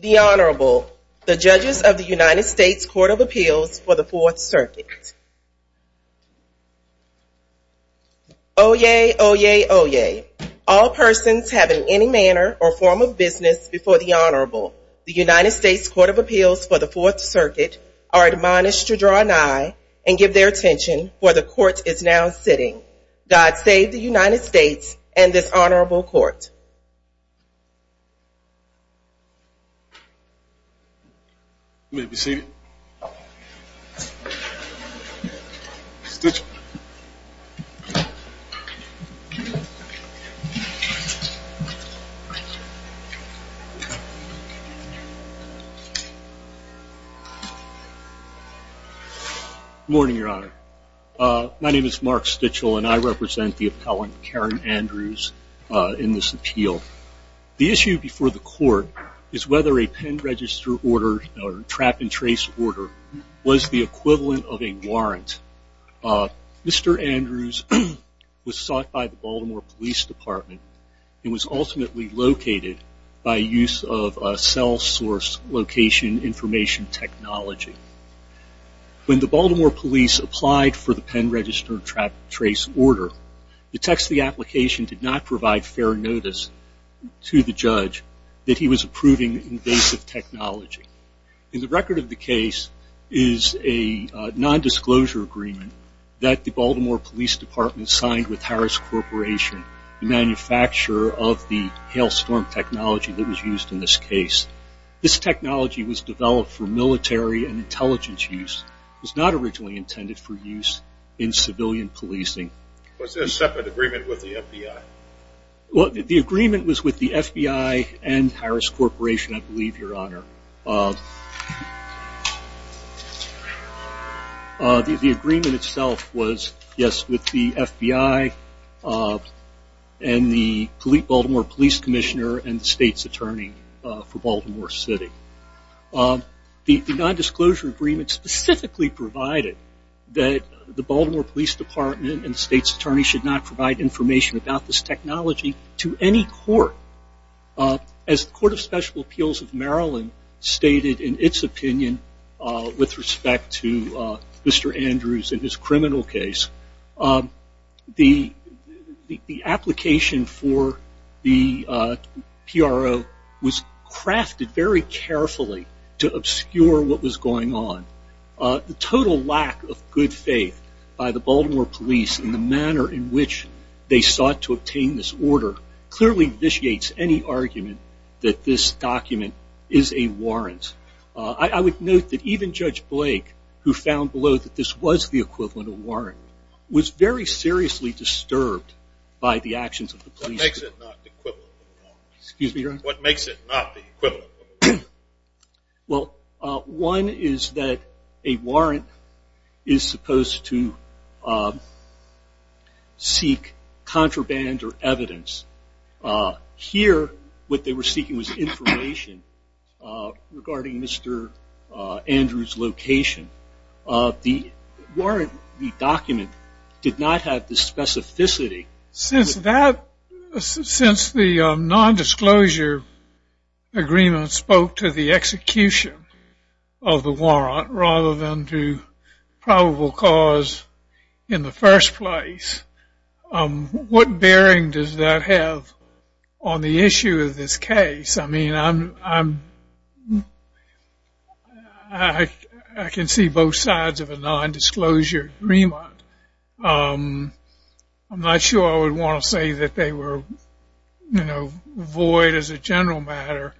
The Honorable, the Judges of the United States Court of Appeals for the Fourth Circuit. Oyez, oyez, oyez. All persons having any manner or form of business before the Honorable, the United States Court of Appeals for the Fourth Circuit, are admonished to draw an eye and give their attention, for the Court is now sitting. God save the United States and this Honorable Court. You may be seated. Good morning, Your Honor. My name is Mark Stichel and I represent the appellant, Karen Andrews, in this appeal. The issue before the Court is whether a pen register order or a trap and trace order was the equivalent of a warrant. Mr. Andrews was sought by the Baltimore Police Department and was ultimately located by use of a cell source location information technology. When the Baltimore Police applied for the pen register trap and trace order, the text of the application did not provide fair notice to the judge that he was approving invasive technology. In the record of the case is a non-disclosure agreement that the Baltimore Police Department signed with Harris Corporation, the manufacturer of the Hail Storm technology that was used in this case. This technology was developed for military and intelligence use. It was not originally intended for use in civilian policing. Was there a separate agreement with the FBI? The agreement was with the FBI and Harris Corporation, I believe, Your Honor. The agreement itself was, yes, with the FBI and the Baltimore Police Commissioner and the State's Attorney for Baltimore City. The non-disclosure agreement specifically provided that the Baltimore Police Department and the State's Attorney should not provide information about this technology to any court. As the Court of Special Appeals of Maryland stated in its opinion with respect to Mr. Harris, the total lack of good faith by the Baltimore Police in the manner in which they sought to obtain this order clearly vitiates any argument that this document is a warrant. I would note that even Judge Blake, who found below that this was the equivalent of a warrant, was very seriously disturbed by the actions of the police. What makes it not the equivalent of a warrant? Well, one is that a warrant is supposed to seek contraband or evidence. Here, what they were seeking was information regarding Mr. Andrews' location. The warrant, the document, did not have the specificity. Since the non-disclosure agreement spoke to the execution of the warrant rather than to probable cause in the first place, what bearing does that have on the issue of this case? I mean, I can see both sides of a non-disclosure agreement. I'm not sure I would want to say that they were void as a general matter,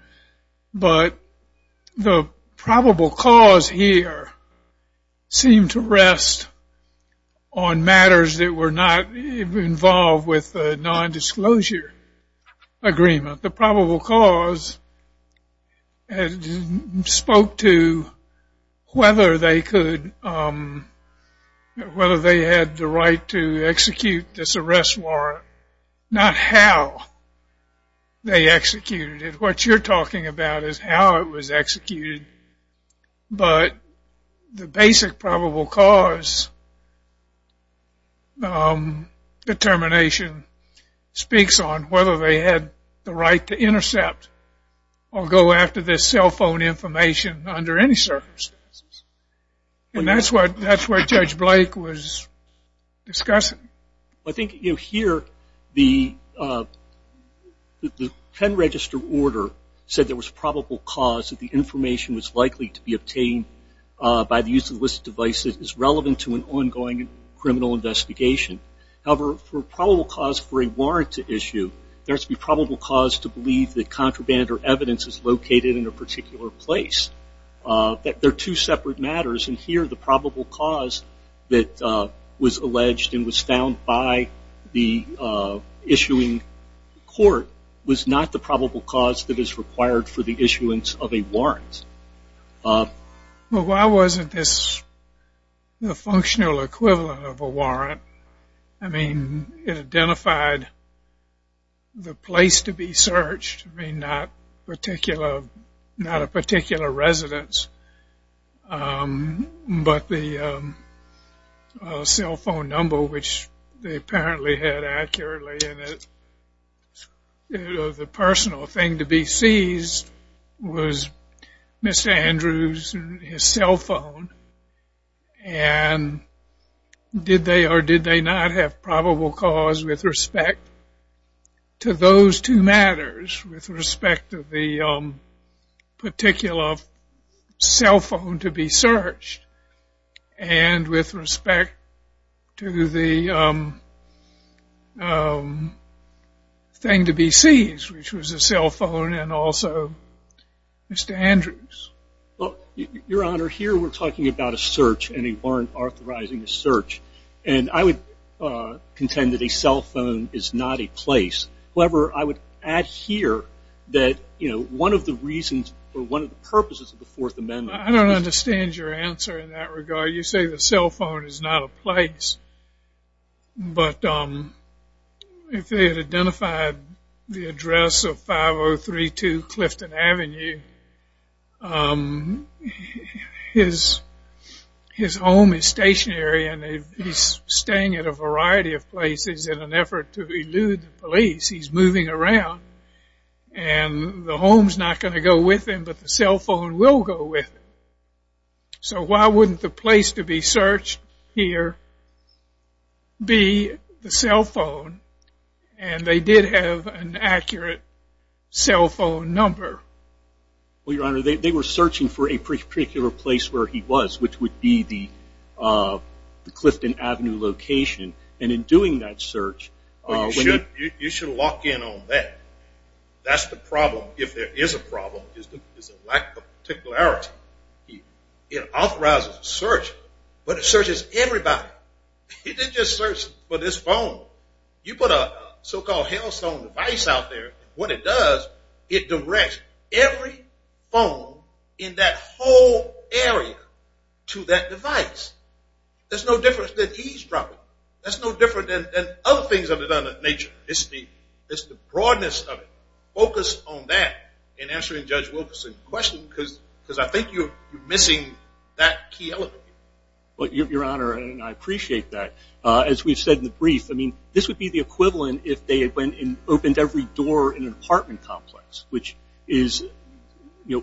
but the probable cause here seemed to rest on matters that were not involved with the non-disclosure agreement. The probable cause spoke to whether they had the right to execute this arrest warrant. Not how they executed it. What you're talking about is how it was executed. But the basic probable cause determination speaks on whether they had the right to intercept or go after this cell phone information under any circumstances. And that's where Judge Blake was discussing. I think here, the pen register order said there was probable cause that the information was likely to be obtained by the use of a device that is relevant to an ongoing criminal investigation. However, for probable cause for a warrant to issue, there has to be probable cause to believe that contraband or evidence is located in a particular place. They're two separate matters, and here the probable cause that was alleged and was found by the issuing court was not the probable cause that is required for the issuance of a warrant. Well, why wasn't this the functional equivalent of a warrant? I mean, it identified the place to be searched. I mean, not a particular residence, but the cell phone number, which they apparently had accurately in it. The personal thing to be seized was Mr. Andrews' cell phone, and did they or did they not have probable cause with respect to those two matters, with respect to the particular cell phone to be searched, and with respect to the thing to be seized, which was a cell phone and also Mr. Andrews? Well, Your Honor, here we're talking about a search and a warrant authorizing a search, and I would contend that a cell phone is not a place. However, I would add here that, you know, one of the reasons or one of the purposes of the Fourth Amendment is... You say the cell phone is not a place, but if it identified the address of 5032 Clifton Avenue, his home is stationary and he's staying at a variety of places in an effort to elude the police. He's moving around, and the home's not going to go with him, but the cell phone will go with him. So why wouldn't the place to be searched here be the cell phone, and they did have an accurate cell phone number? Well, Your Honor, they were searching for a particular place where he was, which would be the Clifton Avenue location, and in doing that search... That's the problem. If there is a problem, it's a lack of particularity. It authorizes a search, but it searches everybody. It didn't just search for this phone. You put a so-called hailstone device out there, what it does, it directs every phone in that whole area to that device. There's no difference that he's dropping. That's no different than other things of that nature. It's the broadness of it. Focus on that in answering Judge Wilkerson's question, because I think you're missing that key element. Well, Your Honor, and I appreciate that. As we've said in the brief, this would be the equivalent if they had opened every door in an apartment complex, which is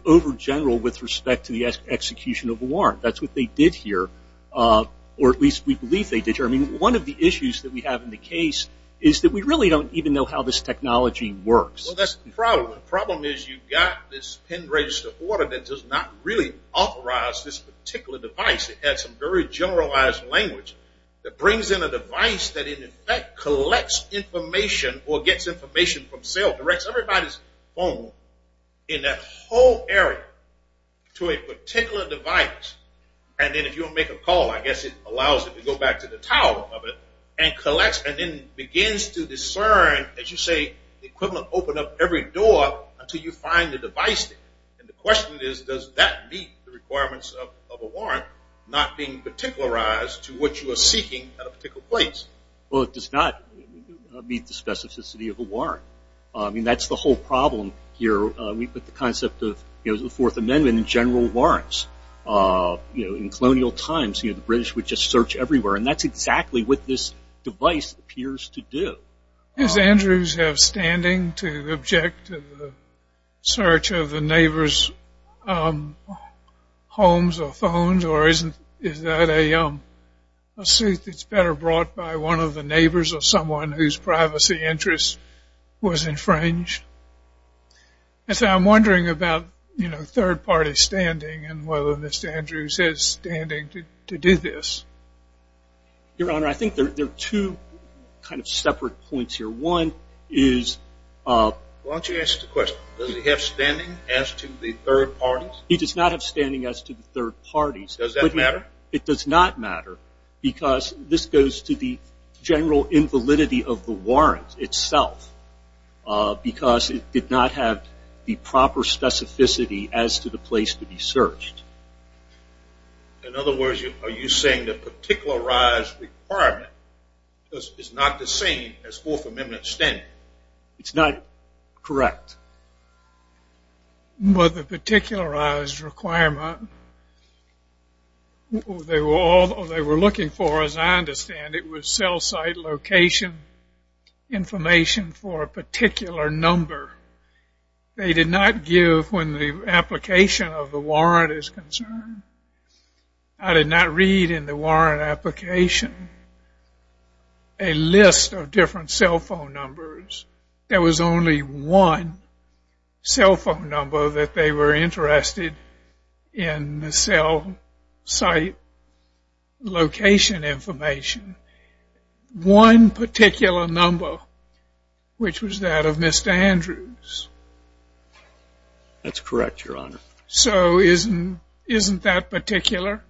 over-general with respect to the execution of a warrant. That's what they did here, or at least we believe they did here. One of the issues that we have in the case is that we really don't even know how this technology works. Well, that's the problem. The problem is you've got this pen-registered order that does not really authorize this particular device. It has some very generalized language that brings in a device that in effect collects information or gets information from cell, directs everybody's phone in that whole area to a particular device. And then if you want to make a call, I guess it allows it to go back to the tower of it and collects and then begins to discern, as you say, the equivalent open up every door until you find the device. And the question is, does that meet the requirements of a warrant not being particularized to what you are seeking at a particular place? Well, it does not meet the specificity of a warrant. I mean, that's the whole problem here. We put the concept of the Fourth Amendment in general warrants. In colonial times, the British would just search everywhere. And that's exactly what this device appears to do. Does Andrews have standing to object to the search of the neighbor's homes or phones? Or is that a suit that's better brought by one of the neighbors or someone whose privacy interest was infringed? I'm wondering about third-party standing and whether Mr. Andrews has standing to do this. Your Honor, I think there are two kind of separate points here. One is... Why don't you ask the question? Does he have standing as to the third parties? He does not have standing as to the third parties. Does that matter? It does not matter because this goes to the general invalidity of the warrant itself because it did not have the proper specificity as to the place to be searched. In other words, are you saying the particularized requirement is not the same as Fourth Amendment standing? It's not correct. Well, the particularized requirement, they were looking for, as I understand it, was cell site location information for a particular number. They did not give, when the application of the warrant is concerned... I did not read in the warrant application a list of different cell phone numbers. There was only one cell phone number that they were interested in the cell site location information. One particular number, which was that of Mr. Andrews. That's correct, Your Honor. So isn't that particular?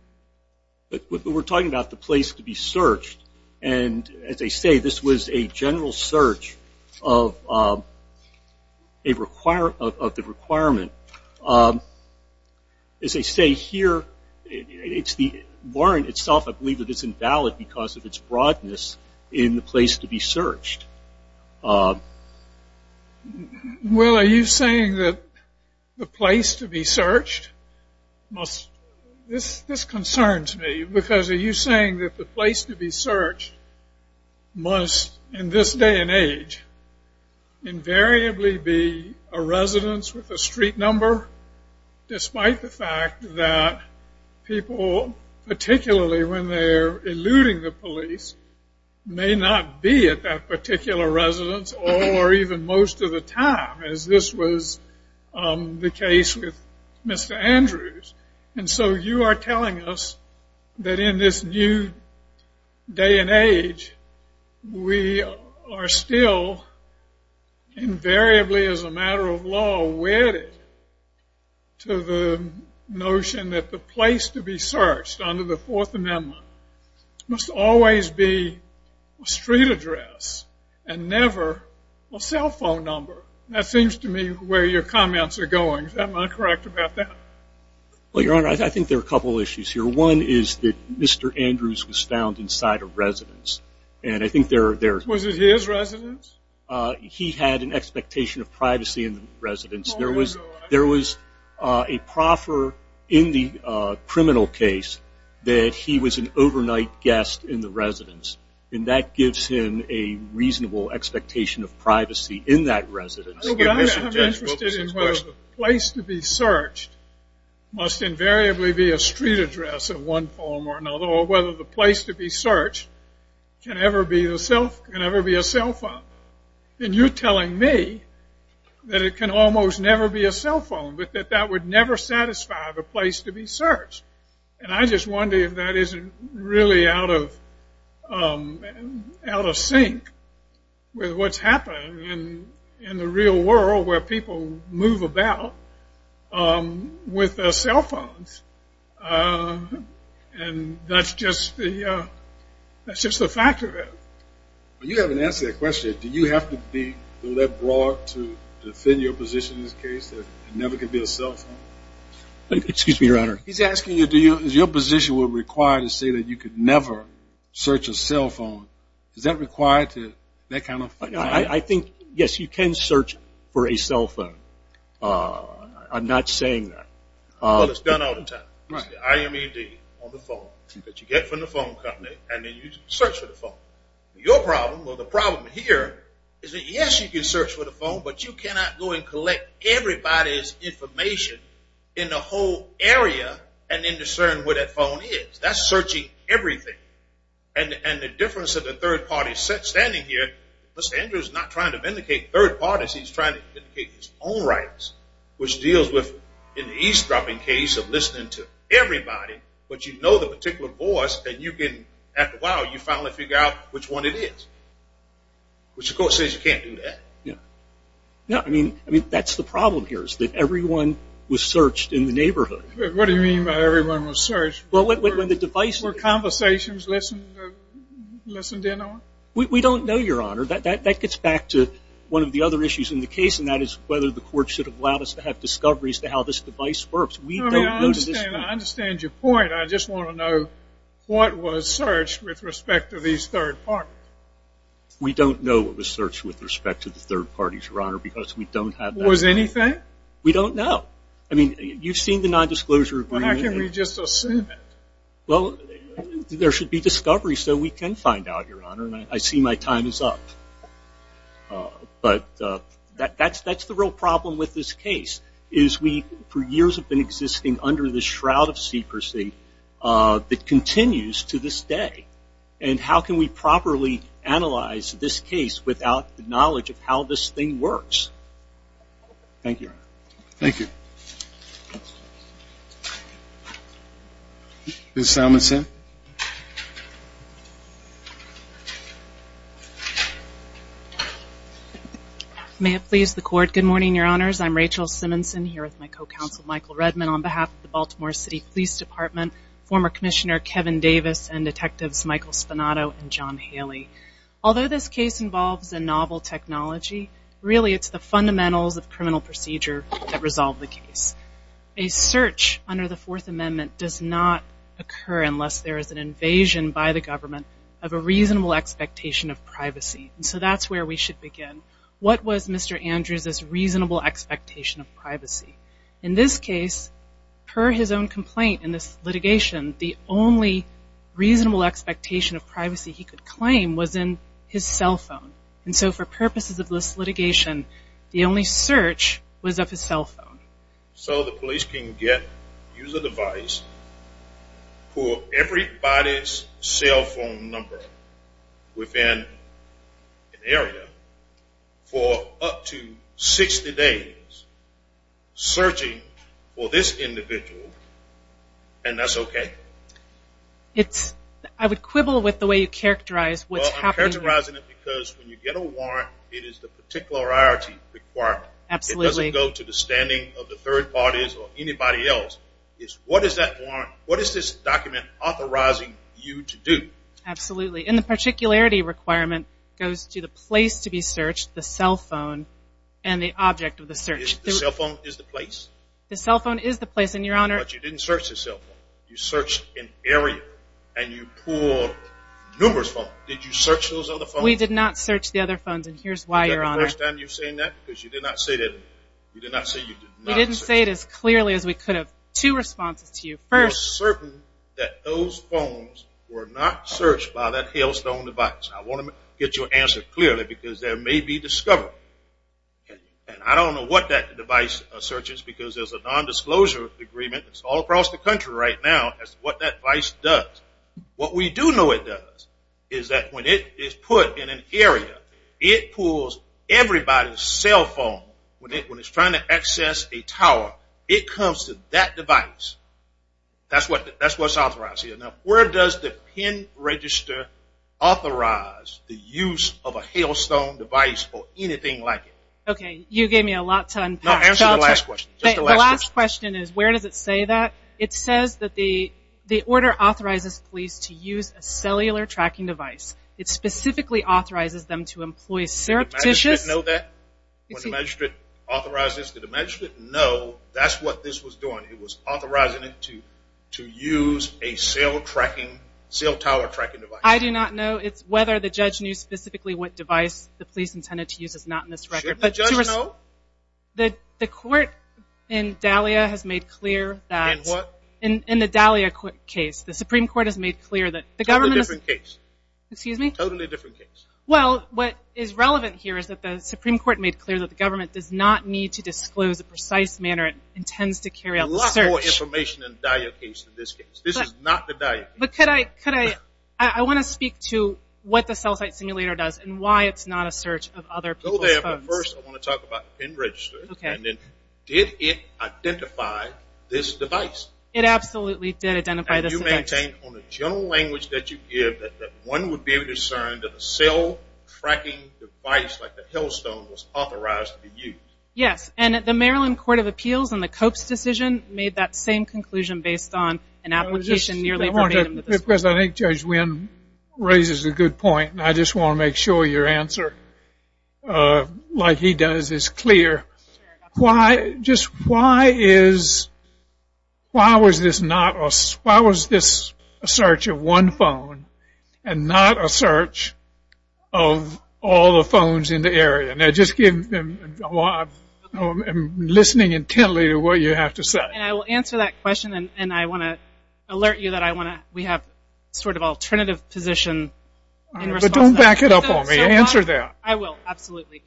We're talking about the place to be searched. And as I say, this was a general search of the requirement. As I say here, the warrant itself, I believe, is invalid because of its broadness in the place to be searched. Well, are you saying that the place to be searched must... This concerns me, because are you saying that the place to be searched must, in this day and age, invariably be a residence with a street number despite the fact that people, particularly when they're eluding the police, may not be at that particular residence or even most of the time, as this was the case with Mr. Andrews? And so you are telling us that in this new day and age, we are still invariably, as a matter of law, wedded to the notion that the place to be searched under the Fourth Amendment must always be a street address and never a cell phone number. That seems to me where your comments are going. Am I correct about that? Well, Your Honor, I think there are a couple issues here. One is that Mr. Andrews was found inside a residence. And I think there... Was it his residence? He had an expectation of privacy in the residence. There was a proffer in the criminal case that he was an overnight guest in the residence. And that gives him a reasonable expectation of privacy in that residence. Well, but I'm interested in whether the place to be searched must invariably be a street address of one form or another or whether the place to be searched can ever be a cell phone. And you're telling me that it can almost never be a cell phone, but that that would never satisfy the place to be searched. And I just wonder if that isn't really out of out of sync with what's happening in the real world where people move about with cell phones. And that's just the that's just the fact of it. You haven't answered that question. Do you have to be that broad to defend your position in this case that it never could be a cell phone? Excuse me, Your Honor. He's asking you, is your position required to say that you could never search a cell phone? Is that required to... I think, yes, you can search for a cell phone. I'm not saying that. Well, it's done all the time. It's the IMED on the phone that you get from the phone company and then you search for the phone. Your problem or the problem here is that, yes, you can search for the phone, but you cannot go and collect everybody's information in the whole area and then discern where that phone is. That's searching everything. And the difference of the third party standing here, Mr. Andrews is not trying to vindicate third parties. He's trying to vindicate his own rights, which deals with an eavesdropping case of listening to everybody, but you know the particular voice and you can, after a while, you finally figure out which one it is, which the court says you can't do that. Yeah. No, I mean, that's the problem here is that everyone was searched in the neighborhood. What do you mean by everyone was searched? Well, when the device... Were conversations listened in on? We don't know, Your Honor. That gets back to one of the other issues in the case and that is whether the court should have allowed us to have discoveries to how this device works. I understand your point. I just want to know what was searched with respect to these third parties. We don't know what was searched with respect to the third parties, Your Honor, because we don't have that information. Was anything? We don't know. I mean, you've seen the nondisclosure agreement. Well, how can we just assume it? Well, there should be discoveries so we can find out, Your Honor, and I see my time is up. But that's the real problem with this case is we, for years, have been existing under this shroud of secrecy that continues to this day. And how can we properly analyze this case without the knowledge of how this thing works? Thank you, Your Honor. Thank you. Ms. Salmonson? May it please the court. Good morning, Your Honors. I'm Rachel Simonson, here with my co-counsel, Michael Redman, on behalf of the Baltimore City Police Department, former Commissioner Kevin Davis, and Detectives Michael Spanato and John Haley. Although this case involves a novel technology, really it's the fundamentals of criminal procedure that resolve the case. A search under the Fourth Amendment does not occur unless there is an invasion by the government of a reasonable expectation of privacy, and so that's where we should begin. What was Mr. Andrews's reasonable expectation of privacy? In this case, per his own complaint in this litigation, the only reasonable expectation of privacy he could claim was in his cell phone. And so for purposes of this litigation, the only search was of his cell phone. So the police can get, use a device, pull everybody's cell phone number within an area for up to 60 days searching for this individual, and that's okay? I would quibble with the way you characterize what's happening. Well, I'm characterizing it because when you get a warrant, it is the particularity required. Absolutely. It doesn't go to the standing of the third parties or anybody else. It's what is that warrant, what is this document authorizing you to do? Absolutely. And the particularity requirement goes to the place to be searched, the cell phone, and the object of the search. The cell phone is the place? The cell phone is the place, and, Your Honor. But you didn't search his cell phone. You searched an area, and you pulled numerous phones. Did you search those other phones? We did not search the other phones, and here's why, Your Honor. Is that the first time you've said that? Because you did not say that. You did not say you did not search. We didn't say it as clearly as we could have. Two responses to you. I'm certain that those phones were not searched by that Hailstone device. I want to get your answer clearly because there may be discovery, and I don't know what that device searches because there's a nondisclosure agreement. It's all across the country right now as to what that device does. What we do know it does is that when it is put in an area, it pulls everybody's cell phone. When it's trying to access a tower, it comes to that device. That's what's authorized here. Now, where does the PIN register authorize the use of a Hailstone device or anything like it? Okay, you gave me a lot to unpack. No, answer the last question. The last question is where does it say that? It says that the order authorizes police to use a cellular tracking device. It specifically authorizes them to employ surreptitious. Does the magistrate know that? Does the magistrate authorize this? Did the magistrate know that's what this was doing? It was authorizing it to use a cell tower tracking device. I do not know whether the judge knew specifically what device the police intended to use. It's not in this record. Should the judge know? The court in Dahlia has made clear that. In what? In the Dahlia case. The Supreme Court has made clear that. Totally different case. Excuse me? Totally different case. Well, what is relevant here is that the Supreme Court made clear that the government does not need to disclose a precise manner it intends to carry out the search. A lot more information in the Dahlia case than this case. This is not the Dahlia case. But could I, could I, I want to speak to what the cell site simulator does and why it's not a search of other people's phones. Go there, but first I want to talk about the PIN register. Okay. And then did it identify this device? It absolutely did identify this device. And you maintain on the general language that you give that one would be concerned that the cell tracking device, like the Hillstone, was authorized to be used. Yes. And the Maryland Court of Appeals in the Cope's decision made that same conclusion based on an application nearly verbatim. Because I think Judge Wynn raises a good point, and I just want to make sure your answer, like he does, is clear. Why, just why is, why was this not, and not a search of all the phones in the area? Now just give, I'm listening intently to what you have to say. And I will answer that question, and I want to alert you that I want to, we have sort of alternative position in response to that. But don't back it up on me. Answer that. I will, absolutely.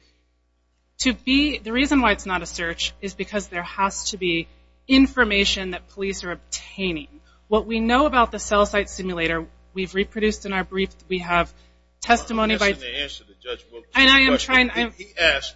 To be, the reason why it's not a search is because there has to be information that police are obtaining. What we know about the cell site simulator, we've reproduced in our brief, we have testimony by. I'm not asking to answer the Judge Wynn question. And I am trying. He asked,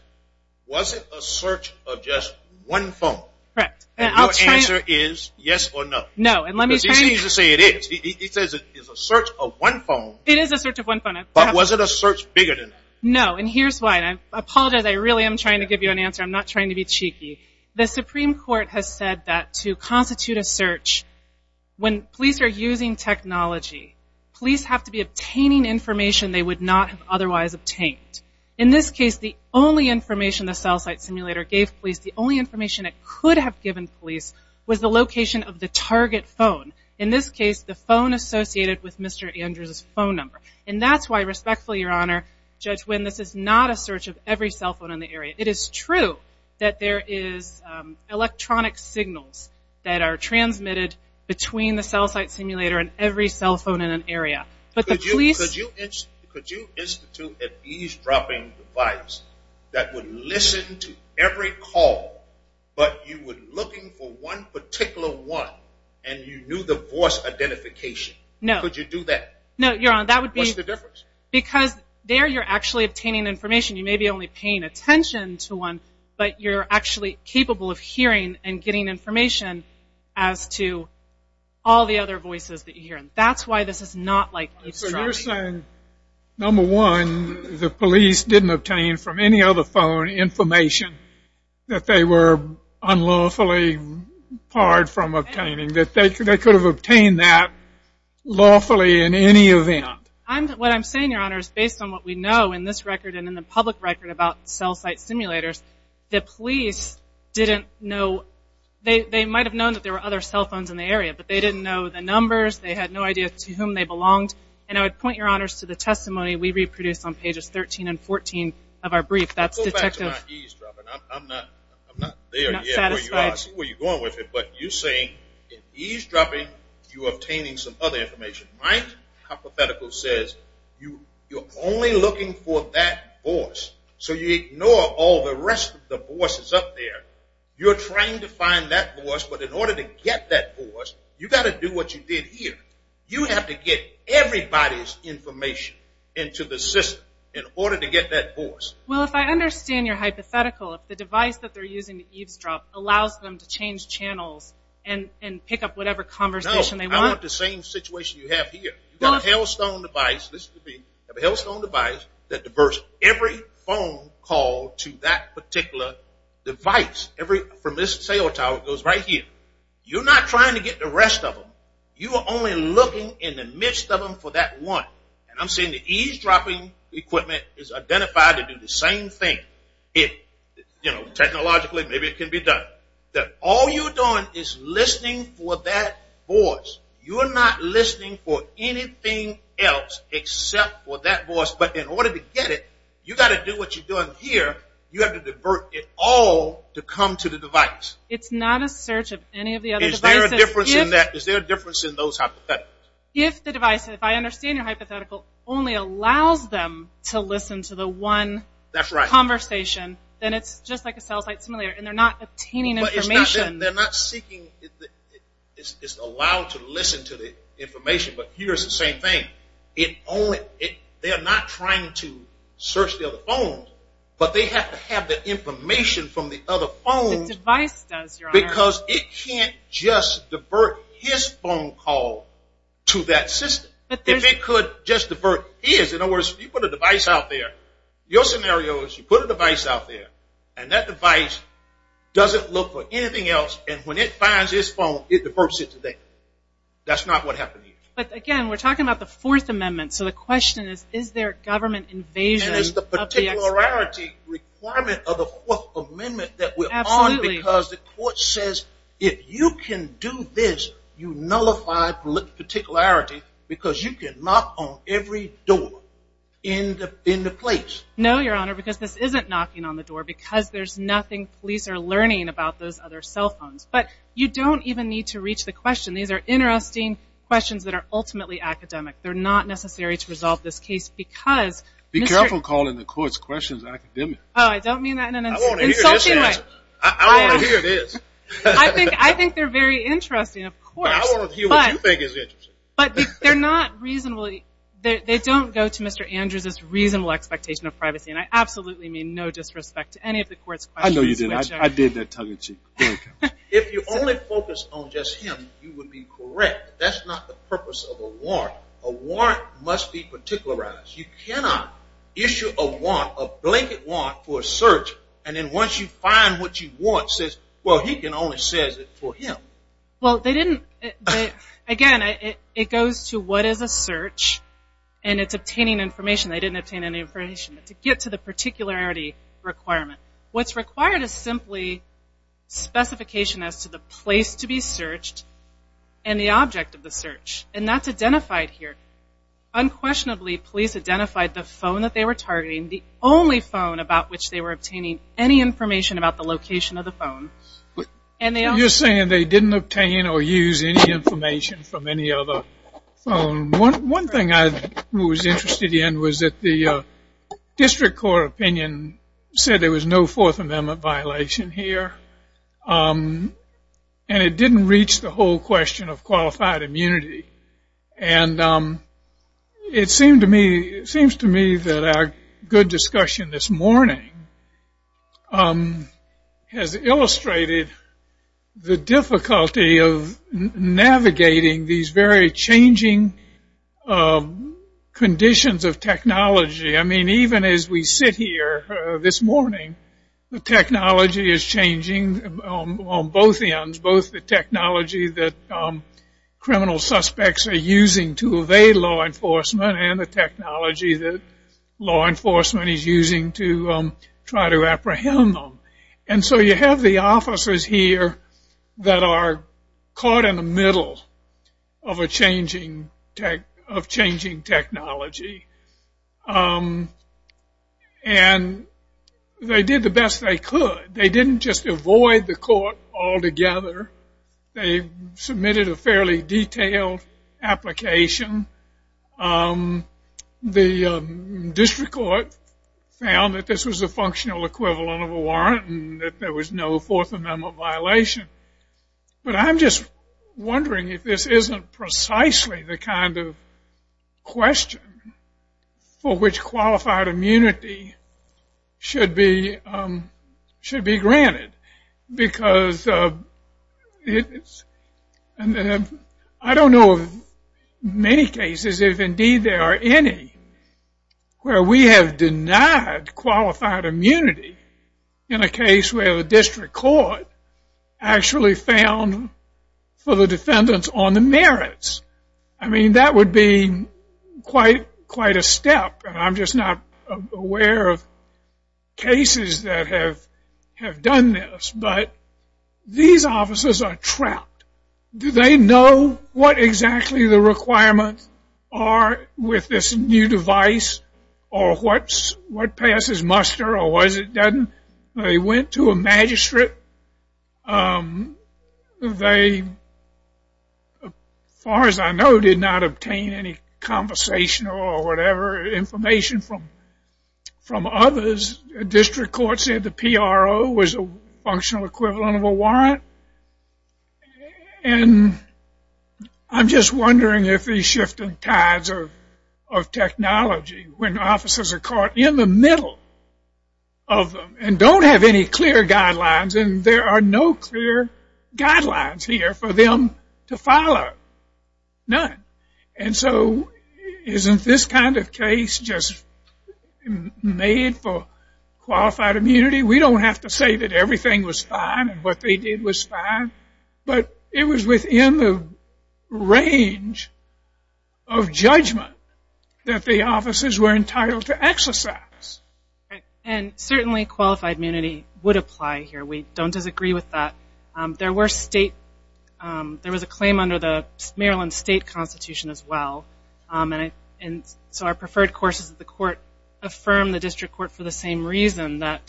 was it a search of just one phone? Correct. And your answer is yes or no. No, and let me try. Because he seems to say it is. He says it is a search of one phone. It is a search of one phone. But was it a search bigger than that? No, and here's why. And I apologize, I really am trying to give you an answer. I'm not trying to be cheeky. The Supreme Court has said that to constitute a search, when police are using technology, police have to be obtaining information they would not have otherwise obtained. In this case, the only information the cell site simulator gave police, the only information it could have given police, was the location of the target phone. In this case, the phone associated with Mr. Andrews' phone number. And that's why, respectfully, Your Honor, Judge Wynn, this is not a search of every cell phone in the area. It is true that there is electronic signals that are transmitted between the cell site simulator and every cell phone in an area. But the police... Could you institute a eavesdropping device that would listen to every call, but you were looking for one particular one, and you knew the voice identification? No. Could you do that? No, Your Honor, that would be... What's the difference? Because there you're actually obtaining information. You may be only paying attention to one, but you're actually capable of hearing and getting information as to all the other voices that you hear. That's why this is not like eavesdropping. So you're saying, number one, the police didn't obtain from any other phone information that they were unlawfully barred from obtaining, that they could have obtained that lawfully in any event? What I'm saying, Your Honor, is based on what we know in this record and in the public record about cell site simulators, the police didn't know... They might have known that there were other cell phones in the area, but they didn't know the numbers. They had no idea to whom they belonged. And I would point, Your Honor, to the testimony we reproduced on pages 13 and 14 of our brief. That's Detective... Go back to my eavesdropping. I'm not there yet. I'm not satisfied. I see where you're going with it. But you're saying, in eavesdropping, you're obtaining some other information, right? The hypothetical says you're only looking for that voice. So you ignore all the rest of the voices up there. You're trying to find that voice, but in order to get that voice, you've got to do what you did here. You have to get everybody's information into the system in order to get that voice. Well, if I understand your hypothetical, if the device that they're using to eavesdrop allows them to change channels and pick up whatever conversation they want... You've got a Hailstone device. You've got a Hailstone device that diverts every phone call to that particular device. From this cell tower, it goes right here. You're not trying to get the rest of them. You are only looking in the midst of them for that one. And I'm saying the eavesdropping equipment is identified to do the same thing. Technologically, maybe it can be done. All you're doing is listening for that voice. You are not listening for anything else except for that voice. But in order to get it, you've got to do what you're doing here. You have to divert it all to come to the device. It's not a search of any of the other devices. Is there a difference in those hypotheticals? If the device, if I understand your hypothetical, only allows them to listen to the one conversation, then it's just like a cell site simulator, and they're not obtaining information. They're not seeking. It's allowed to listen to the information, but here's the same thing. They're not trying to search the other phones, but they have to have the information from the other phones. The device does, Your Honor. Because it can't just divert his phone call to that system. If it could just divert his, in other words, you put a device out there. Your scenario is you put a device out there, and that device doesn't look for anything else, and when it finds his phone, it diverts it to that. That's not what happened here. But, again, we're talking about the Fourth Amendment, so the question is, is there government invasion of the exercise? And is the particularity requirement of the Fourth Amendment that we're on? Absolutely. Because the court says if you can do this, you nullify particularity because you can knock on every door in the place. No, Your Honor, because this isn't knocking on the door, because there's nothing police are learning about those other cell phones. But you don't even need to reach the question. These are interesting questions that are ultimately academic. They're not necessary to resolve this case because Mr. Be careful calling the courts questions academic. Oh, I don't mean that in an insulting way. I want to hear this answer. I want to hear this. I think they're very interesting, of course. But I want to hear what you think is interesting. But they're not reasonable. They don't go to Mr. Andrews' reasonable expectation of privacy, and I absolutely mean no disrespect to any of the court's questions. I know you didn't. I did that tongue-in-cheek. If you only focus on just him, you would be correct. That's not the purpose of a warrant. A warrant must be particularized. You cannot issue a warrant, a blanket warrant for a search, and then once you find what you want, says, well, he can only says it for him. Well, they didn't. Again, it goes to what is a search, and it's obtaining information. They didn't obtain any information. But to get to the particularity requirement, what's required is simply specification as to the place to be searched and the object of the search. And that's identified here. Unquestionably, police identified the phone that they were targeting, the only phone about which they were obtaining any information about the location of the phone. Just saying they didn't obtain or use any information from any other phone. One thing I was interested in was that the district court opinion said there was no Fourth Amendment violation here, and it didn't reach the whole question of qualified immunity. And it seems to me that our good discussion this morning has illustrated the difficulty of navigating these very changing conditions of technology. I mean, even as we sit here this morning, the technology is changing on both ends, both the technology that criminal suspects are using to evade law enforcement and the technology that law enforcement is using to try to apprehend them. And so you have the officers here that are caught in the middle of changing technology. And they did the best they could. They didn't just avoid the court altogether. They submitted a fairly detailed application. The district court found that this was a functional equivalent of a warrant and that there was no Fourth Amendment violation. But I'm just wondering if this isn't precisely the kind of question for which qualified immunity should be granted. Because I don't know of many cases, if indeed there are any, where we have denied qualified immunity in a case where the district court actually found for the defendants on the merits. I mean, that would be quite a step. And I'm just not aware of cases that have done this. But these officers are trapped. Do they know what exactly the requirements are with this new device or what passes muster or what it doesn't? They went to a magistrate. They, as far as I know, did not obtain any conversation or whatever information from others. The district court said the PRO was a functional equivalent of a warrant. And I'm just wondering if these shifting tides of technology when officers are caught in the middle of them and don't have any clear guidelines. And there are no clear guidelines here for them to follow. None. And so isn't this kind of case just made for qualified immunity? We don't have to say that everything was fine and what they did was fine. But it was within the range of judgment that the officers were entitled to exercise. And certainly qualified immunity would apply here. We don't disagree with that. There was a claim under the Maryland state constitution as well. And so our preferred courses of the court affirmed the district court for the same reason, that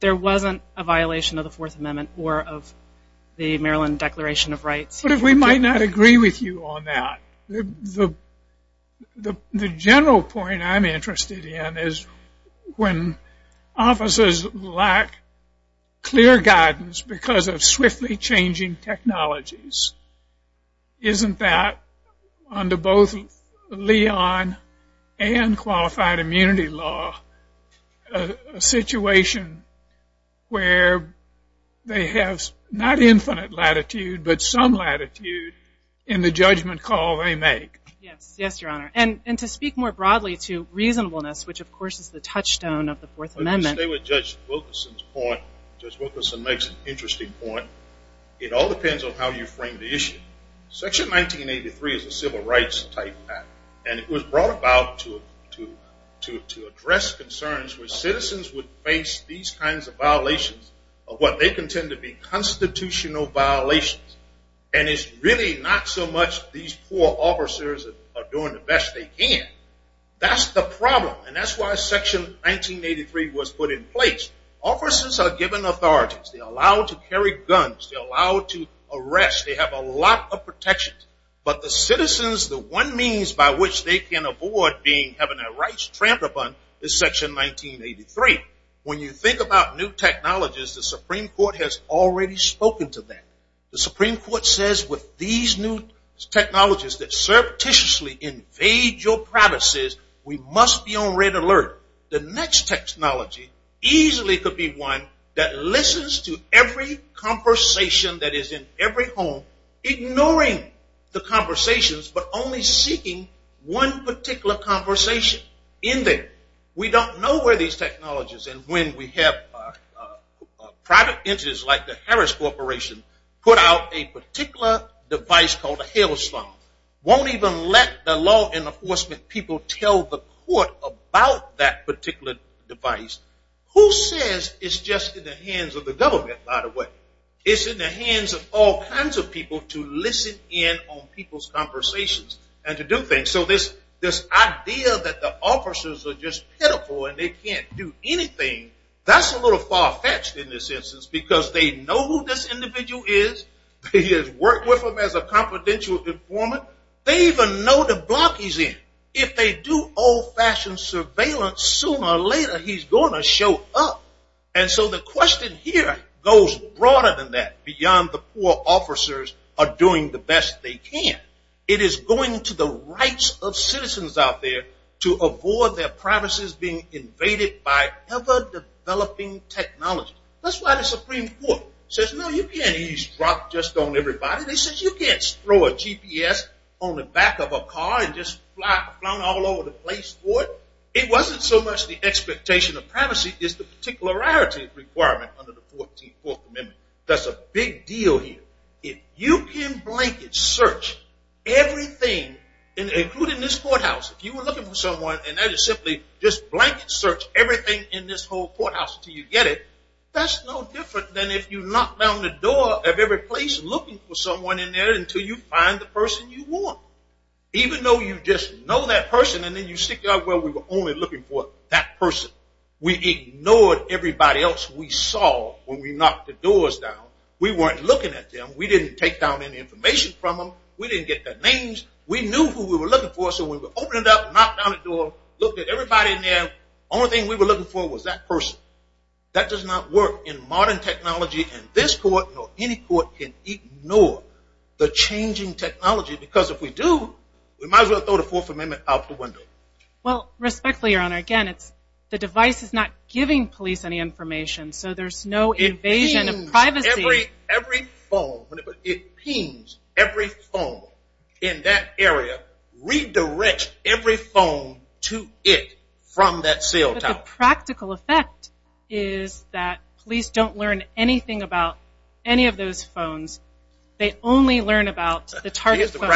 there wasn't a violation of the Fourth Amendment or of the Maryland Declaration of Rights. But if we might not agree with you on that. The general point I'm interested in is when officers lack clear guidance because of swiftly changing technologies. Isn't that under both Leon and qualified immunity law a situation where they have not infinite latitude but some latitude in the judgment call they make? Yes, Your Honor. And to speak more broadly to reasonableness, which of course is the touchstone of the Fourth Amendment. Stay with Judge Wilkerson's point. Judge Wilkerson makes an interesting point. It all depends on how you frame the issue. Section 1983 is a civil rights type act. And it was brought about to address concerns where citizens would face these kinds of violations of what they contend to be constitutional violations. And it's really not so much these poor officers are doing the best they can. That's the problem. And that's why Section 1983 was put in place. Officers are given authority. They're allowed to carry guns. They're allowed to arrest. They have a lot of protections. But the citizens, the one means by which they can avoid having their rights trampled upon is Section 1983. When you think about new technologies, the Supreme Court has already spoken to that. The Supreme Court says with these new technologies that surreptitiously invade your practices, we must be on red alert. The next technology easily could be one that listens to every conversation that is in every home, ignoring the conversations but only seeking one particular conversation in there. We don't know where these technologies and when we have private entities like the Harris Corporation put out a particular device called a hailstorm. Won't even let the law enforcement people tell the court about that particular device. Who says it's just in the hands of the government, by the way? It's in the hands of all kinds of people to listen in on people's conversations and to do things. So this idea that the officers are just pitiful and they can't do anything, that's a little far-fetched in this instance because they know who this individual is. They have worked with them as a confidential informant. They even know the block he's in. If they do old-fashioned surveillance, sooner or later he's going to show up. And so the question here goes broader than that, beyond the poor officers are doing the best they can. It is going to the rights of citizens out there to avoid their privacies being invaded by ever-developing technology. That's why the Supreme Court says, no, you can't eavesdrop just on everybody. They said you can't throw a GPS on the back of a car and just fly all over the place for it. It wasn't so much the expectation of privacy as the particularity requirement under the 14th Fourth Amendment. That's a big deal here. If you can blanket search everything, including this courthouse, if you were looking for someone and that is simply just blanket search everything in this whole courthouse until you get it, that's no different than if you knock down the door of every place looking for someone in there until you find the person you want. Even though you just know that person and then you stick out, well, we were only looking for that person. We ignored everybody else we saw when we knocked the doors down. We weren't looking at them. We didn't take down any information from them. We didn't get their names. We knew who we were looking for, so we would open it up, knock down the door, look at everybody in there. The only thing we were looking for was that person. That does not work in modern technology, and this court nor any court can ignore the changing technology because if we do, we might as well throw the Fourth Amendment out the window. Well, respectfully, Your Honor, again, the device is not giving police any information, so there's no invasion of privacy. It pings every phone in that area, redirects every phone to it from that cell tower. But the practical effect is that police don't learn anything about any of those phones. They only learn about the target phone.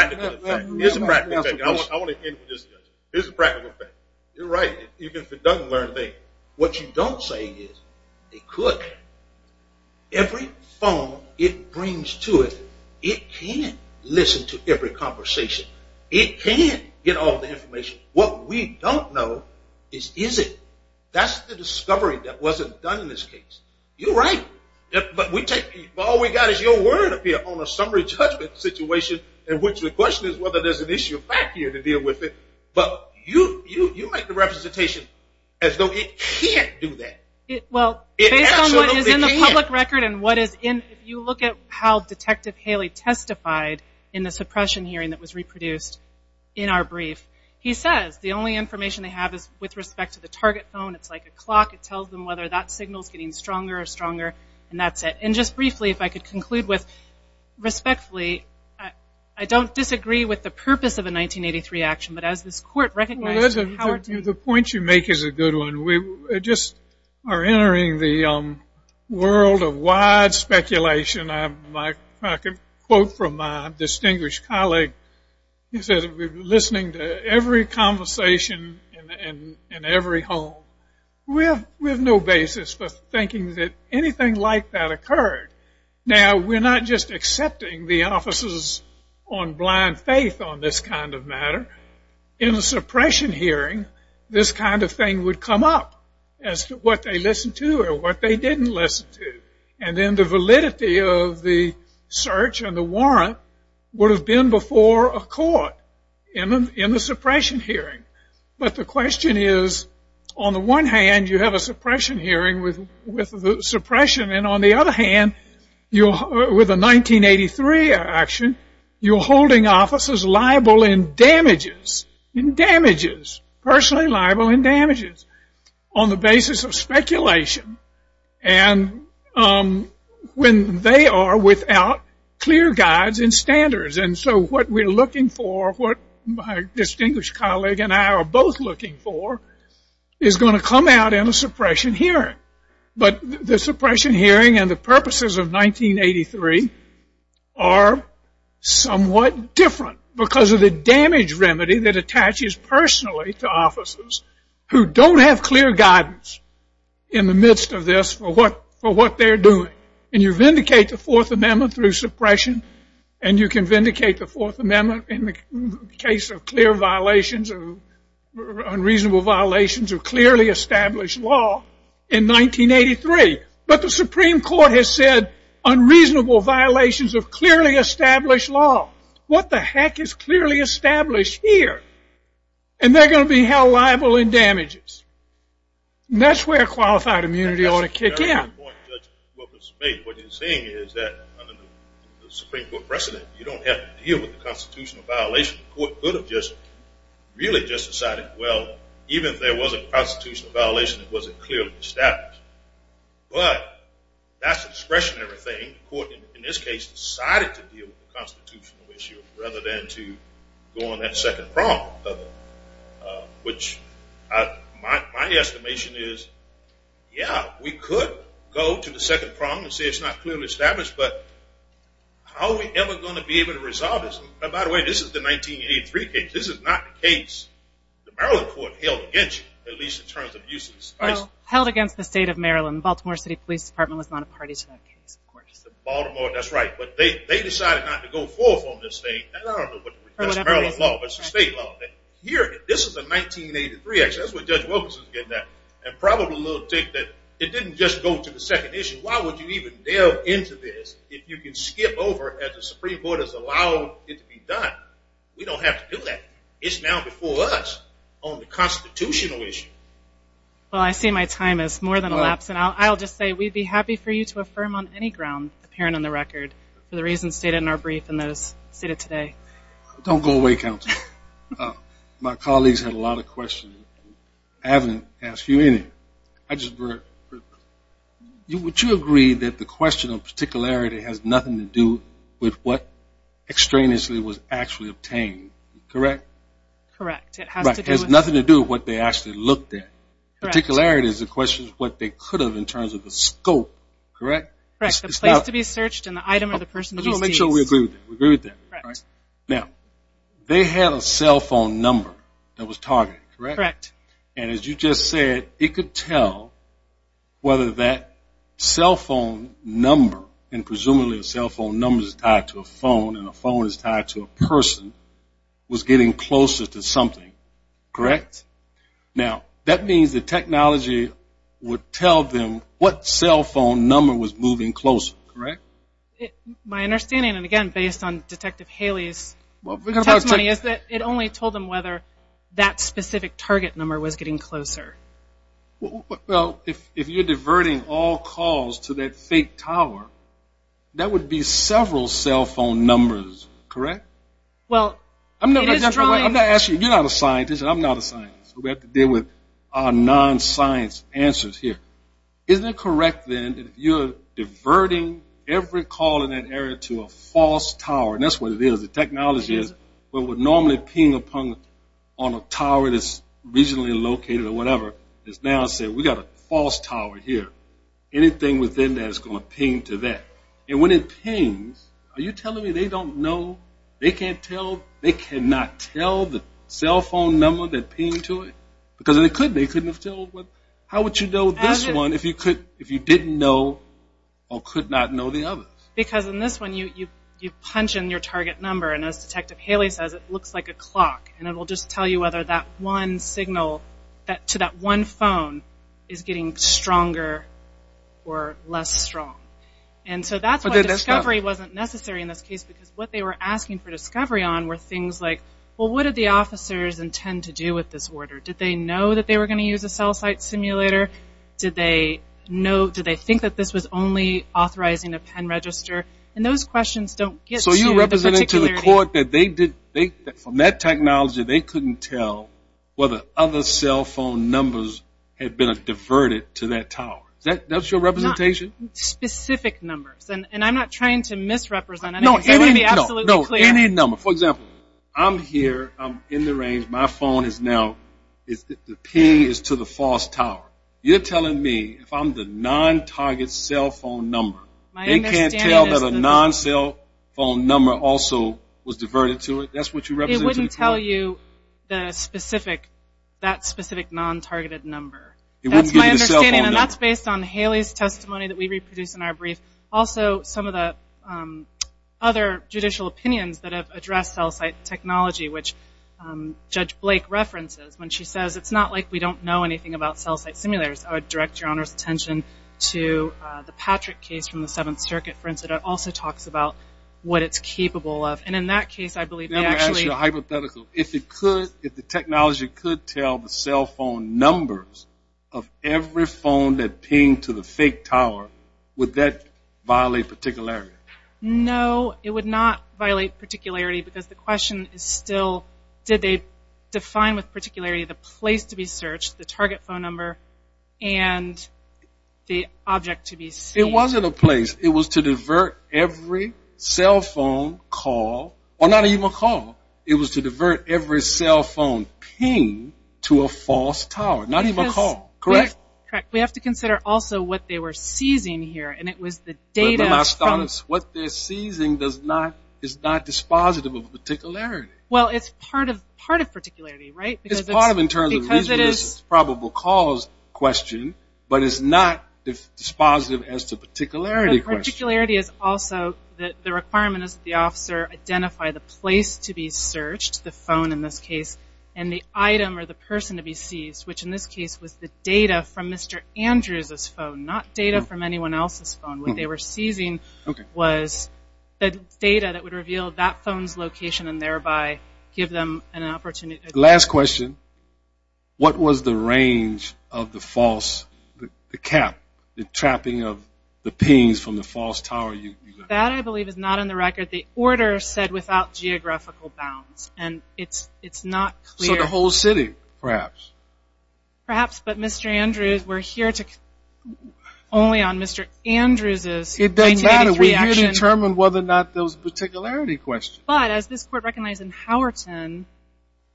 Here's the practical effect. I want to end with this. Here's the practical effect. You're right. Even if it doesn't learn a thing, what you don't say is it could. Every phone it brings to it, it can listen to every conversation. It can get all the information. What we don't know is is it. That's the discovery that wasn't done in this case. You're right. But all we got is your word on a summary judgment situation in which the question is whether there's an issue back here to deal with it. You make the representation as though it can't do that. It absolutely can't. Based on what is in the public record and what is in, if you look at how Detective Haley testified in the suppression hearing that was reproduced in our brief, he says the only information they have is with respect to the target phone. It's like a clock. It tells them whether that signal is getting stronger or stronger, and that's it. Just briefly, if I could conclude with respectfully, I don't disagree with the purpose of a 1983 action, but as this court recognizes. The point you make is a good one. We just are entering the world of wide speculation. I can quote from my distinguished colleague. He said we're listening to every conversation in every home. We have no basis for thinking that anything like that occurred. Now, we're not just accepting the officers on blind faith on this kind of matter. In the suppression hearing, this kind of thing would come up as to what they listened to or what they didn't listen to. And then the validity of the search and the warrant would have been before a court in the suppression hearing. But the question is, on the one hand you have a suppression hearing with the suppression, and on the other hand, with a 1983 action, you're holding officers liable in damages, in damages, personally liable in damages, on the basis of speculation. And when they are without clear guides and standards, and so what we're looking for, what my distinguished colleague and I are both looking for, is going to come out in a suppression hearing. But the suppression hearing and the purposes of 1983 are somewhat different because of the damage remedy that attaches personally to officers who don't have clear guidance in the midst of this for what they're doing. And you vindicate the Fourth Amendment through suppression, and you can vindicate the Fourth Amendment in the case of clear violations or unreasonable violations of clearly established law in 1983. But the Supreme Court has said unreasonable violations of clearly established law. What the heck is clearly established here? And they're going to be held liable in damages. And that's where qualified immunity ought to kick in. What you're saying is that under the Supreme Court precedent, you don't have to deal with the constitutional violation. The court could have just really just decided, well, even if there was a constitutional violation, it wasn't clearly established. But that's a discretionary thing. The court in this case decided to deal with the constitutional issue rather than to go on that second prong of it, which my estimation is, yeah, we could go to the second prong and say it's not clearly established, but how are we ever going to be able to resolve this? By the way, this is the 1983 case. This is not the case the Maryland court held against you, at least in terms of use of the spice. Well, held against the state of Maryland. The Baltimore City Police Department was not a party to that case, of course. Baltimore, that's right. But they decided not to go forth on this thing. I don't know if that's Maryland law, but it's the state law. Here, this is a 1983 action. That's what Judge Wilkerson is getting at. And probably a little tick that it didn't just go to the second issue. Why would you even delve into this if you can skip over it as the Supreme Court has allowed it to be done? We don't have to do that. It's now before us on the constitutional issue. Well, I see my time has more than elapsed. And I'll just say we'd be happy for you to affirm on any ground, apparent on the record, for the reasons stated in our brief and those stated today. Don't go away, Counselor. My colleagues had a lot of questions. I haven't asked you any. Would you agree that the question of particularity has nothing to do with what extraneously was actually obtained, correct? Correct. It has nothing to do with what they actually looked at. Particularity is the question of what they could have in terms of the scope, correct? Correct. The place to be searched and the item or the person to be seized. We'll make sure we agree with that. Now, they had a cell phone number that was targeted, correct? Correct. And as you just said, it could tell whether that cell phone number and presumably a cell phone number is tied to a phone and a phone is tied to a person was getting closer to something, correct? Now, that means the technology would tell them what cell phone number was moving closer, correct? My understanding, and again based on Detective Haley's testimony, is that it only told them whether that specific target number was getting closer. Well, if you're diverting all calls to that fake tower, that would be several cell phone numbers, correct? Well, it is drawing. You're not a scientist and I'm not a scientist, so we have to deal with our non-science answers here. Isn't it correct, then, if you're diverting every call in that area to a false tower, and that's what it is, the technology is, when we're normally pinging upon a tower that's regionally located or whatever, it's now saying, we've got a false tower here. Anything within that is going to ping to that. And when it pings, are you telling me they don't know, they can't tell, they cannot tell the cell phone number that pinged to it? Because they couldn't. They couldn't have told. How would you know this one if you didn't know or could not know the others? Because in this one, you punch in your target number, and as Detective Haley says, it looks like a clock, and it will just tell you whether that one signal to that one phone is getting stronger or less strong. And so that's why discovery wasn't necessary in this case, because what they were asking for discovery on were things like, well, what did the officers intend to do with this order? Did they know that they were going to use a cell site simulator? Did they think that this was only authorizing a pen register? And those questions don't get to the particularity. So you're representing to the court that from that technology, they couldn't tell whether other cell phone numbers had been diverted to that tower. Is that your representation? Specific numbers. And I'm not trying to misrepresent anything. I want to be absolutely clear. No, any number. For example, I'm here, I'm in the range, my phone is now, the ping is to the false tower. You're telling me if I'm the non-target cell phone number, they can't tell that a non-cell phone number also was diverted to it? That's what you're representing to the court? It wouldn't tell you that specific non-targeted number. That's my understanding, and that's based on Haley's testimony that we reproduced in our brief. Also, some of the other judicial opinions that have addressed cell site technology, which Judge Blake references when she says, it's not like we don't know anything about cell site simulators. I would direct your Honor's attention to the Patrick case from the Seventh Circuit, for instance. It also talks about what it's capable of. And in that case, I believe they actually – Let me ask you a hypothetical. If the technology could tell the cell phone numbers of every phone that pinged to the fake tower, would that violate particularity? No, it would not violate particularity because the question is still, did they define with particularity the place to be searched, the target phone number, and the object to be seen? It wasn't a place. It was to divert every cell phone call – or not even a call. It was to divert every cell phone ping to a false tower, not even a call. Correct? Correct. We have to consider also what they were seizing here, and it was the data from – But then, Astonis, what they're seizing is not dispositive of particularity. Well, it's part of particularity, right? It's part of it in terms of the reason this is a probable cause question, but it's not dispositive as to particularity. Particularity is also the requirement that the officer identify the place to be searched, the phone in this case, and the item or the person to be seized, which in this case was the data from Mr. Andrews' phone, not data from anyone else's phone. What they were seizing was the data that would reveal that phone's location and thereby give them an opportunity. Last question. What was the range of the false – the cap, the trapping of the pings from the false tower? That, I believe, is not on the record. The order said without geographical bounds, and it's not clear. So the whole city, perhaps? Perhaps, but Mr. Andrews, we're here to – only on Mr. Andrews' 1983 action. It doesn't matter. We're here to determine whether or not there was a particularity question. But as this court recognized in Howerton,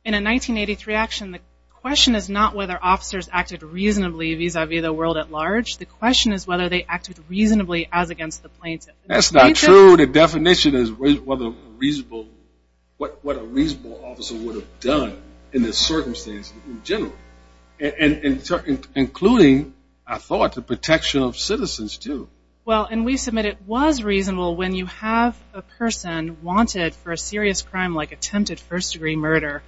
in a 1983 action, the question is not whether officers acted reasonably vis-à-vis the world at large. The question is whether they acted reasonably as against the plaintiff. That's not true. The definition is what a reasonable officer would have done in this circumstance in general, including, I thought, the protection of citizens too. Well, and we submit it was reasonable when you have a person wanted for a serious crime like attempted first-degree murder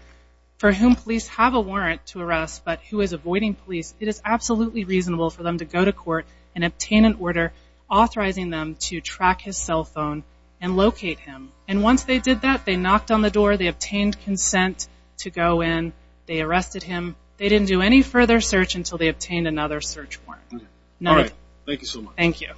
for whom police have a warrant to arrest but who is avoiding police, it is absolutely reasonable for them to go to court and obtain an order authorizing them to track his cell phone and locate him. And once they did that, they knocked on the door. They obtained consent to go in. They arrested him. They didn't do any further search until they obtained another search warrant. Thank you so much. Thank you.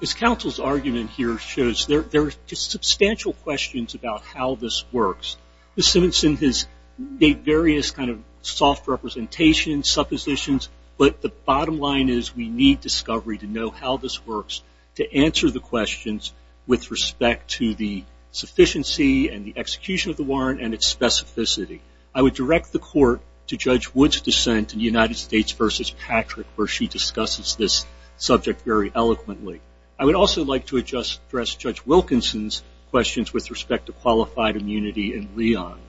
This counsel's argument here shows there are substantial questions about how this works. Ms. Simonson has made various kind of soft representations, suppositions, but the bottom line is we need discovery to know how this works, to answer the questions with respect to the sufficiency and the execution of the warrant and its specificity. I would direct the court to Judge Wood's dissent in the United States versus Patrick where she discusses this subject very eloquently. I would also like to address Judge Wilkinson's questions with respect to qualified immunity in Leon.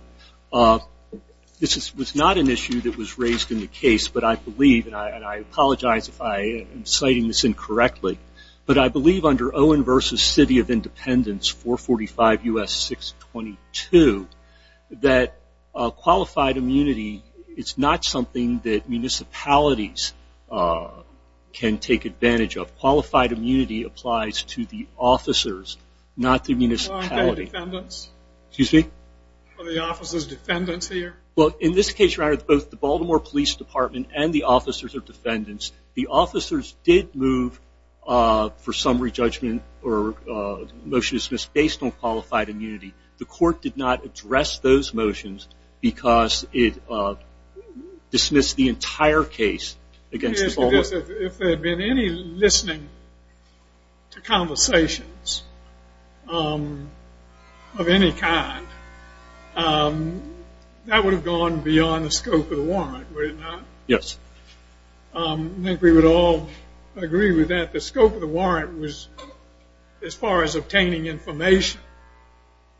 This was not an issue that was raised in the case, but I believe, and I apologize if I am citing this incorrectly, but I believe under Owen versus City of Independence, 445 U.S. 622, that qualified immunity is not something that municipalities can take advantage of. Qualified immunity applies to the officers, not the municipality. For the officers' defendants here? Well, in this case, Your Honor, both the Baltimore Police Department and the officers are defendants. The officers did move for summary judgment or motion to dismiss based on qualified immunity. The court did not address those motions because it dismissed the entire case against the Baltimore. I guess if there had been any listening to conversations of any kind, that would have gone beyond the scope of the warrant, would it not? Yes. I think we would all agree with that. The scope of the warrant was as far as obtaining information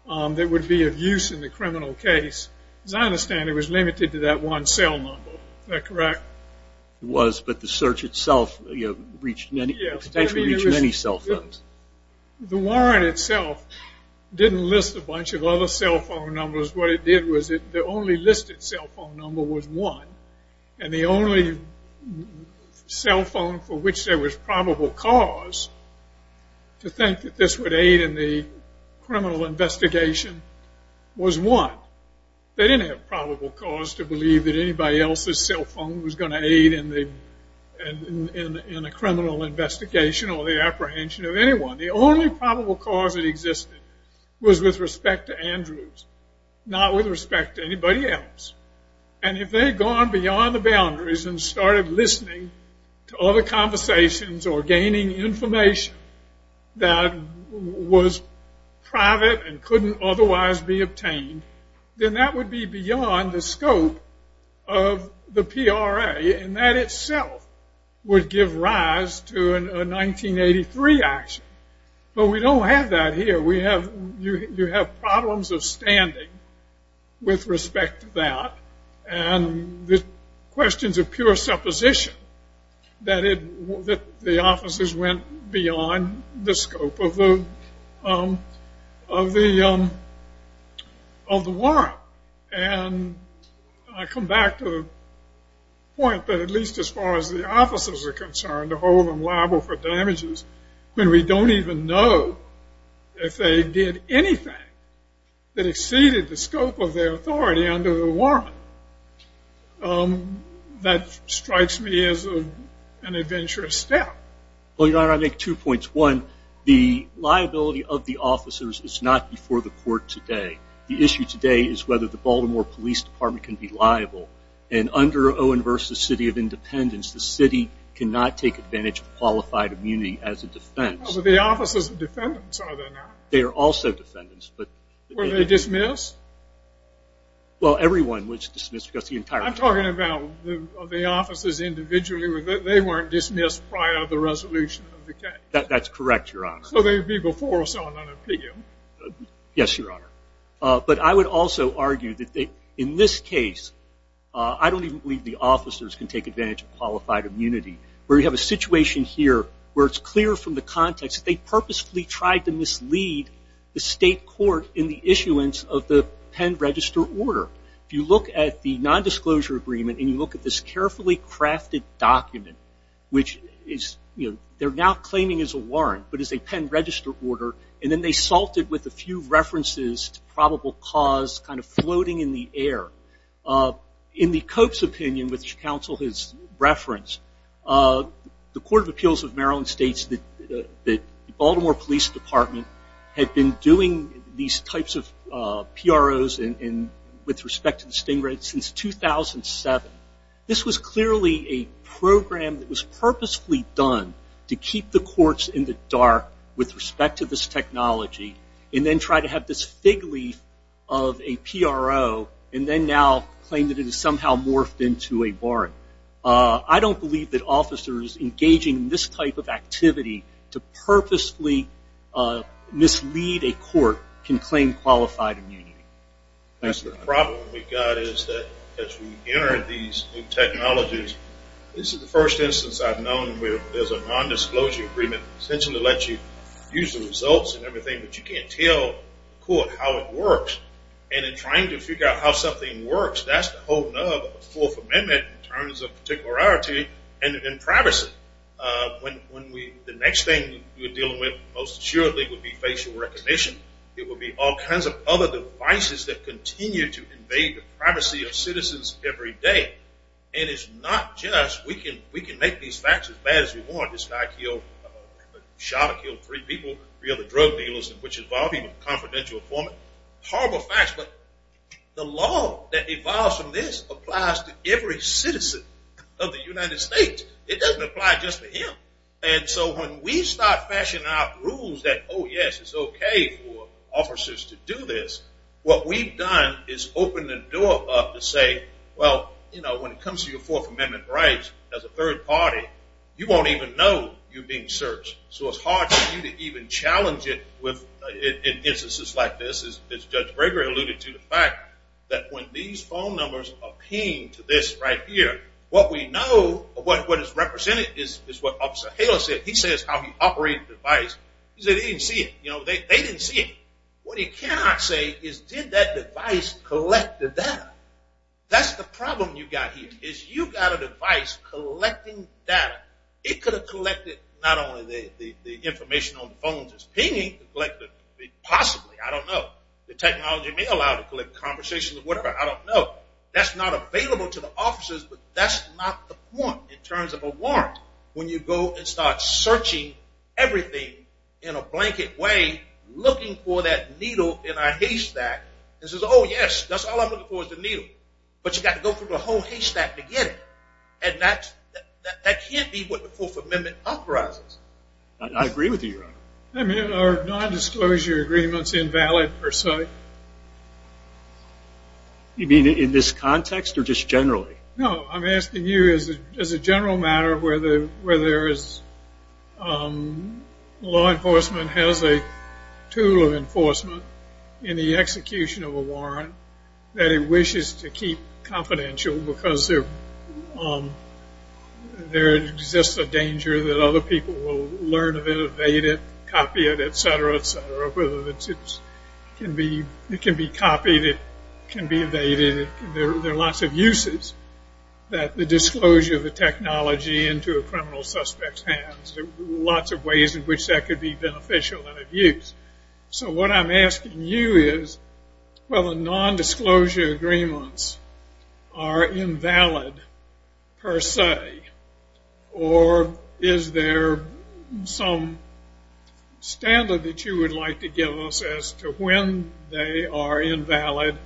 that would be of use in the criminal case. As I understand, it was limited to that one cell number. Is that correct? It was, but the search itself potentially reached many cell phones. The warrant itself didn't list a bunch of other cell phone numbers. What it did was the only listed cell phone number was one, and the only cell phone for which there was probable cause to think that this would aid in the criminal investigation was one. They didn't have probable cause to believe that anybody else's cell phone was going to aid in the criminal investigation or the apprehension of anyone. The only probable cause that existed was with respect to Andrews, not with respect to anybody else. And if they had gone beyond the boundaries and started listening to other conversations or gaining information that was private and couldn't otherwise be obtained, then that would be beyond the scope of the PRA, and that itself would give rise to a 1983 action. But we don't have that here. You have problems of standing with respect to that, and the questions of pure supposition that the officers went beyond the scope of the warrant. And I come back to the point that at least as far as the officers are concerned, to hold them liable for damages when we don't even know if they did anything that exceeded the scope of their authority under the warrant. That strikes me as an adventurous step. Well, Your Honor, I make two points. One, the liability of the officers is not before the court today. The issue today is whether the Baltimore Police Department can be liable. And under Owen versus City of Independence, the city cannot take advantage of qualified immunity as a defense. But the officers are defendants, are they not? They are also defendants. Were they dismissed? Well, everyone was dismissed. I'm talking about the officers individually. They weren't dismissed prior to the resolution of the case. That's correct, Your Honor. So they would be before someone on appeal. Yes, Your Honor. But I would also argue that in this case, I don't even believe the officers can take advantage of qualified immunity. We have a situation here where it's clear from the context that they purposefully tried to mislead the state court in the issuance of the Penn Register order. If you look at the nondisclosure agreement and you look at this carefully crafted document, which they're now claiming is a warrant but is a Penn Register order, and then they salt it with a few references to probable cause kind of floating in the air. In the Cope's opinion, which counsel has referenced, the Court of Appeals of Maryland states that the Baltimore Police Department had been doing these types of PROs with respect to the sting rate since 2007. This was clearly a program that was purposefully done to keep the courts in the dark with respect to this technology and then try to have this fig leaf of a PRO and then now claim that it has somehow morphed into a warrant. I don't believe that officers engaging in this type of activity to purposefully mislead a court can claim qualified immunity. That's the problem we've got is that as we enter these new technologies, this is the first instance I've known where there's a nondisclosure agreement that essentially lets you use the results and everything, but you can't tell the court how it works. And in trying to figure out how something works, that's the whole nub of the Fourth Amendment in terms of particularity and privacy. The next thing we're dealing with most assuredly would be facial recognition. It would be all kinds of other devices that continue to invade the privacy of citizens every day. And it's not just we can make these facts as bad as we want. This guy shot and killed three people, three other drug dealers, which involved even confidential informant. Horrible facts, but the law that evolves from this applies to every citizen of the United States. It doesn't apply just to him. And so when we start fashioning out rules that, oh, yes, it's okay for officers to do this, what we've done is open the door up to say, well, you know, when it comes to your Fourth Amendment rights as a third party, you won't even know you're being searched. So it's hard for you to even challenge it in instances like this, as Judge Breger alluded to the fact that when these phone numbers are pinged to this right here, what we know, what is represented is what Officer Haley said. He says how he operated the device. He said he didn't see it. You know, they didn't see it. What he cannot say is did that device collect the data? That's the problem you've got here is you've got a device collecting data. It could have collected not only the information on the phones it's pinging, but possibly, I don't know, the technology may allow it to collect conversations or whatever. I don't know. That's not available to the officers, but that's not the point in terms of a warrant. When you go and start searching everything in a blanket way, looking for that needle in our haystack, it says, oh, yes, that's all I'm looking for is the needle. But you've got to go through the whole haystack to get it. And that can't be what the Fourth Amendment authorizes. I agree with you, Your Honor. I mean, are non-disclosure agreements invalid per se? You mean in this context or just generally? No, I'm asking you as a general matter where there is law enforcement has a tool of enforcement in the execution of a warrant that it wishes to keep confidential because there exists a danger that other people will learn of it, evade it, copy it, et cetera, et cetera, whether it can be copied, it can be evaded. There are lots of uses that the disclosure of a technology into a criminal suspect's hands. There are lots of ways in which that could be beneficial and of use. So what I'm asking you is whether non-disclosure agreements are invalid per se or is there some standard that you would like to give us as to when they are invalid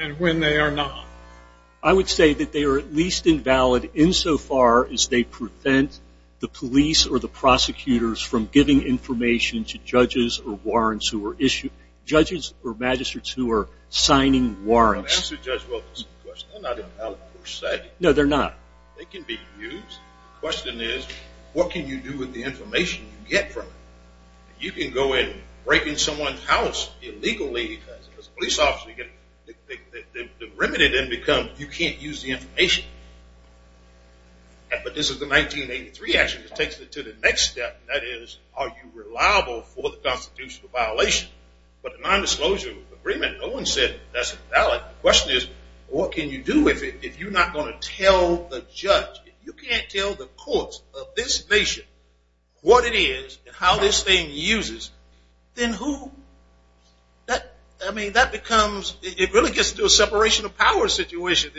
and when they are not? I would say that they are at least invalid insofar as they prevent the police or the prosecutors from giving information to judges or magistrates who are signing warrants. I'm asking Judge Wilkins a question. They're not invalid per se. No, they're not. They can be used. The question is what can you do with the information you get from it? You can go in breaking someone's house illegally as a police officer. The remedy then becomes you can't use the information. But this is the 1983 action that takes it to the next step, and that is are you reliable for the constitutional violation? But the non-disclosure agreement, no one said that's invalid. But the question is what can you do with it if you're not going to tell the judge? If you can't tell the courts of this nation what it is and how this thing uses, then who? I mean, that becomes, it really gets to a separation of power situation.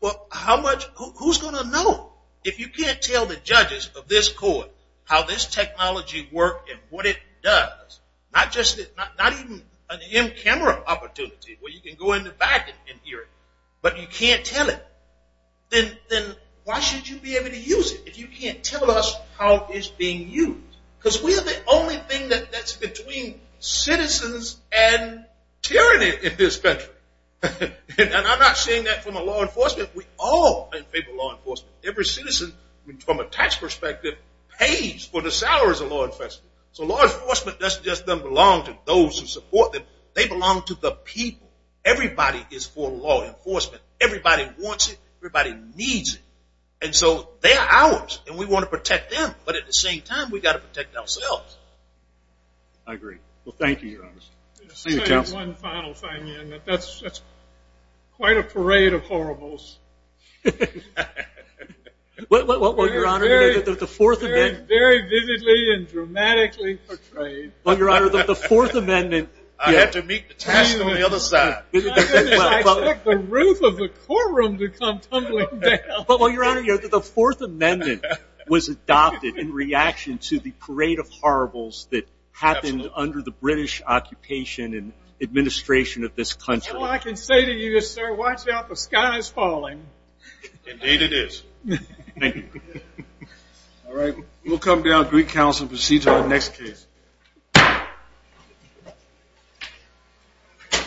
Who's going to know if you can't tell the judges of this court how this technology works and what it does? Not even an in-camera opportunity where you can go in the back and hear it, but you can't tell it. Then why should you be able to use it if you can't tell us how it's being used? Because we are the only thing that's between citizens and tyranny in this country. And I'm not saying that from a law enforcement. We all favor law enforcement. Every citizen, from a tax perspective, pays for the salaries of law enforcement. So law enforcement doesn't just belong to those who support them. They belong to the people. Everybody is for law enforcement. Everybody wants it. Everybody needs it. And so they are ours, and we want to protect them. But at the same time, we've got to protect ourselves. I agree. Well, thank you, Your Honor. One final thing. That's quite a parade of horribles. Well, Your Honor, the Fourth Amendment. Very vividly and dramatically portrayed. Well, Your Honor, the Fourth Amendment. I had to meet the task on the other side. I took the roof of the courtroom to come tumbling down. Well, Your Honor, the Fourth Amendment was adopted in reaction to the parade of horribles that happened under the British occupation and administration of this country. All I can say to you is, sir, watch out. The sky is falling. Indeed it is. Thank you. All right. We'll come down, greet counsel, and proceed to our next case.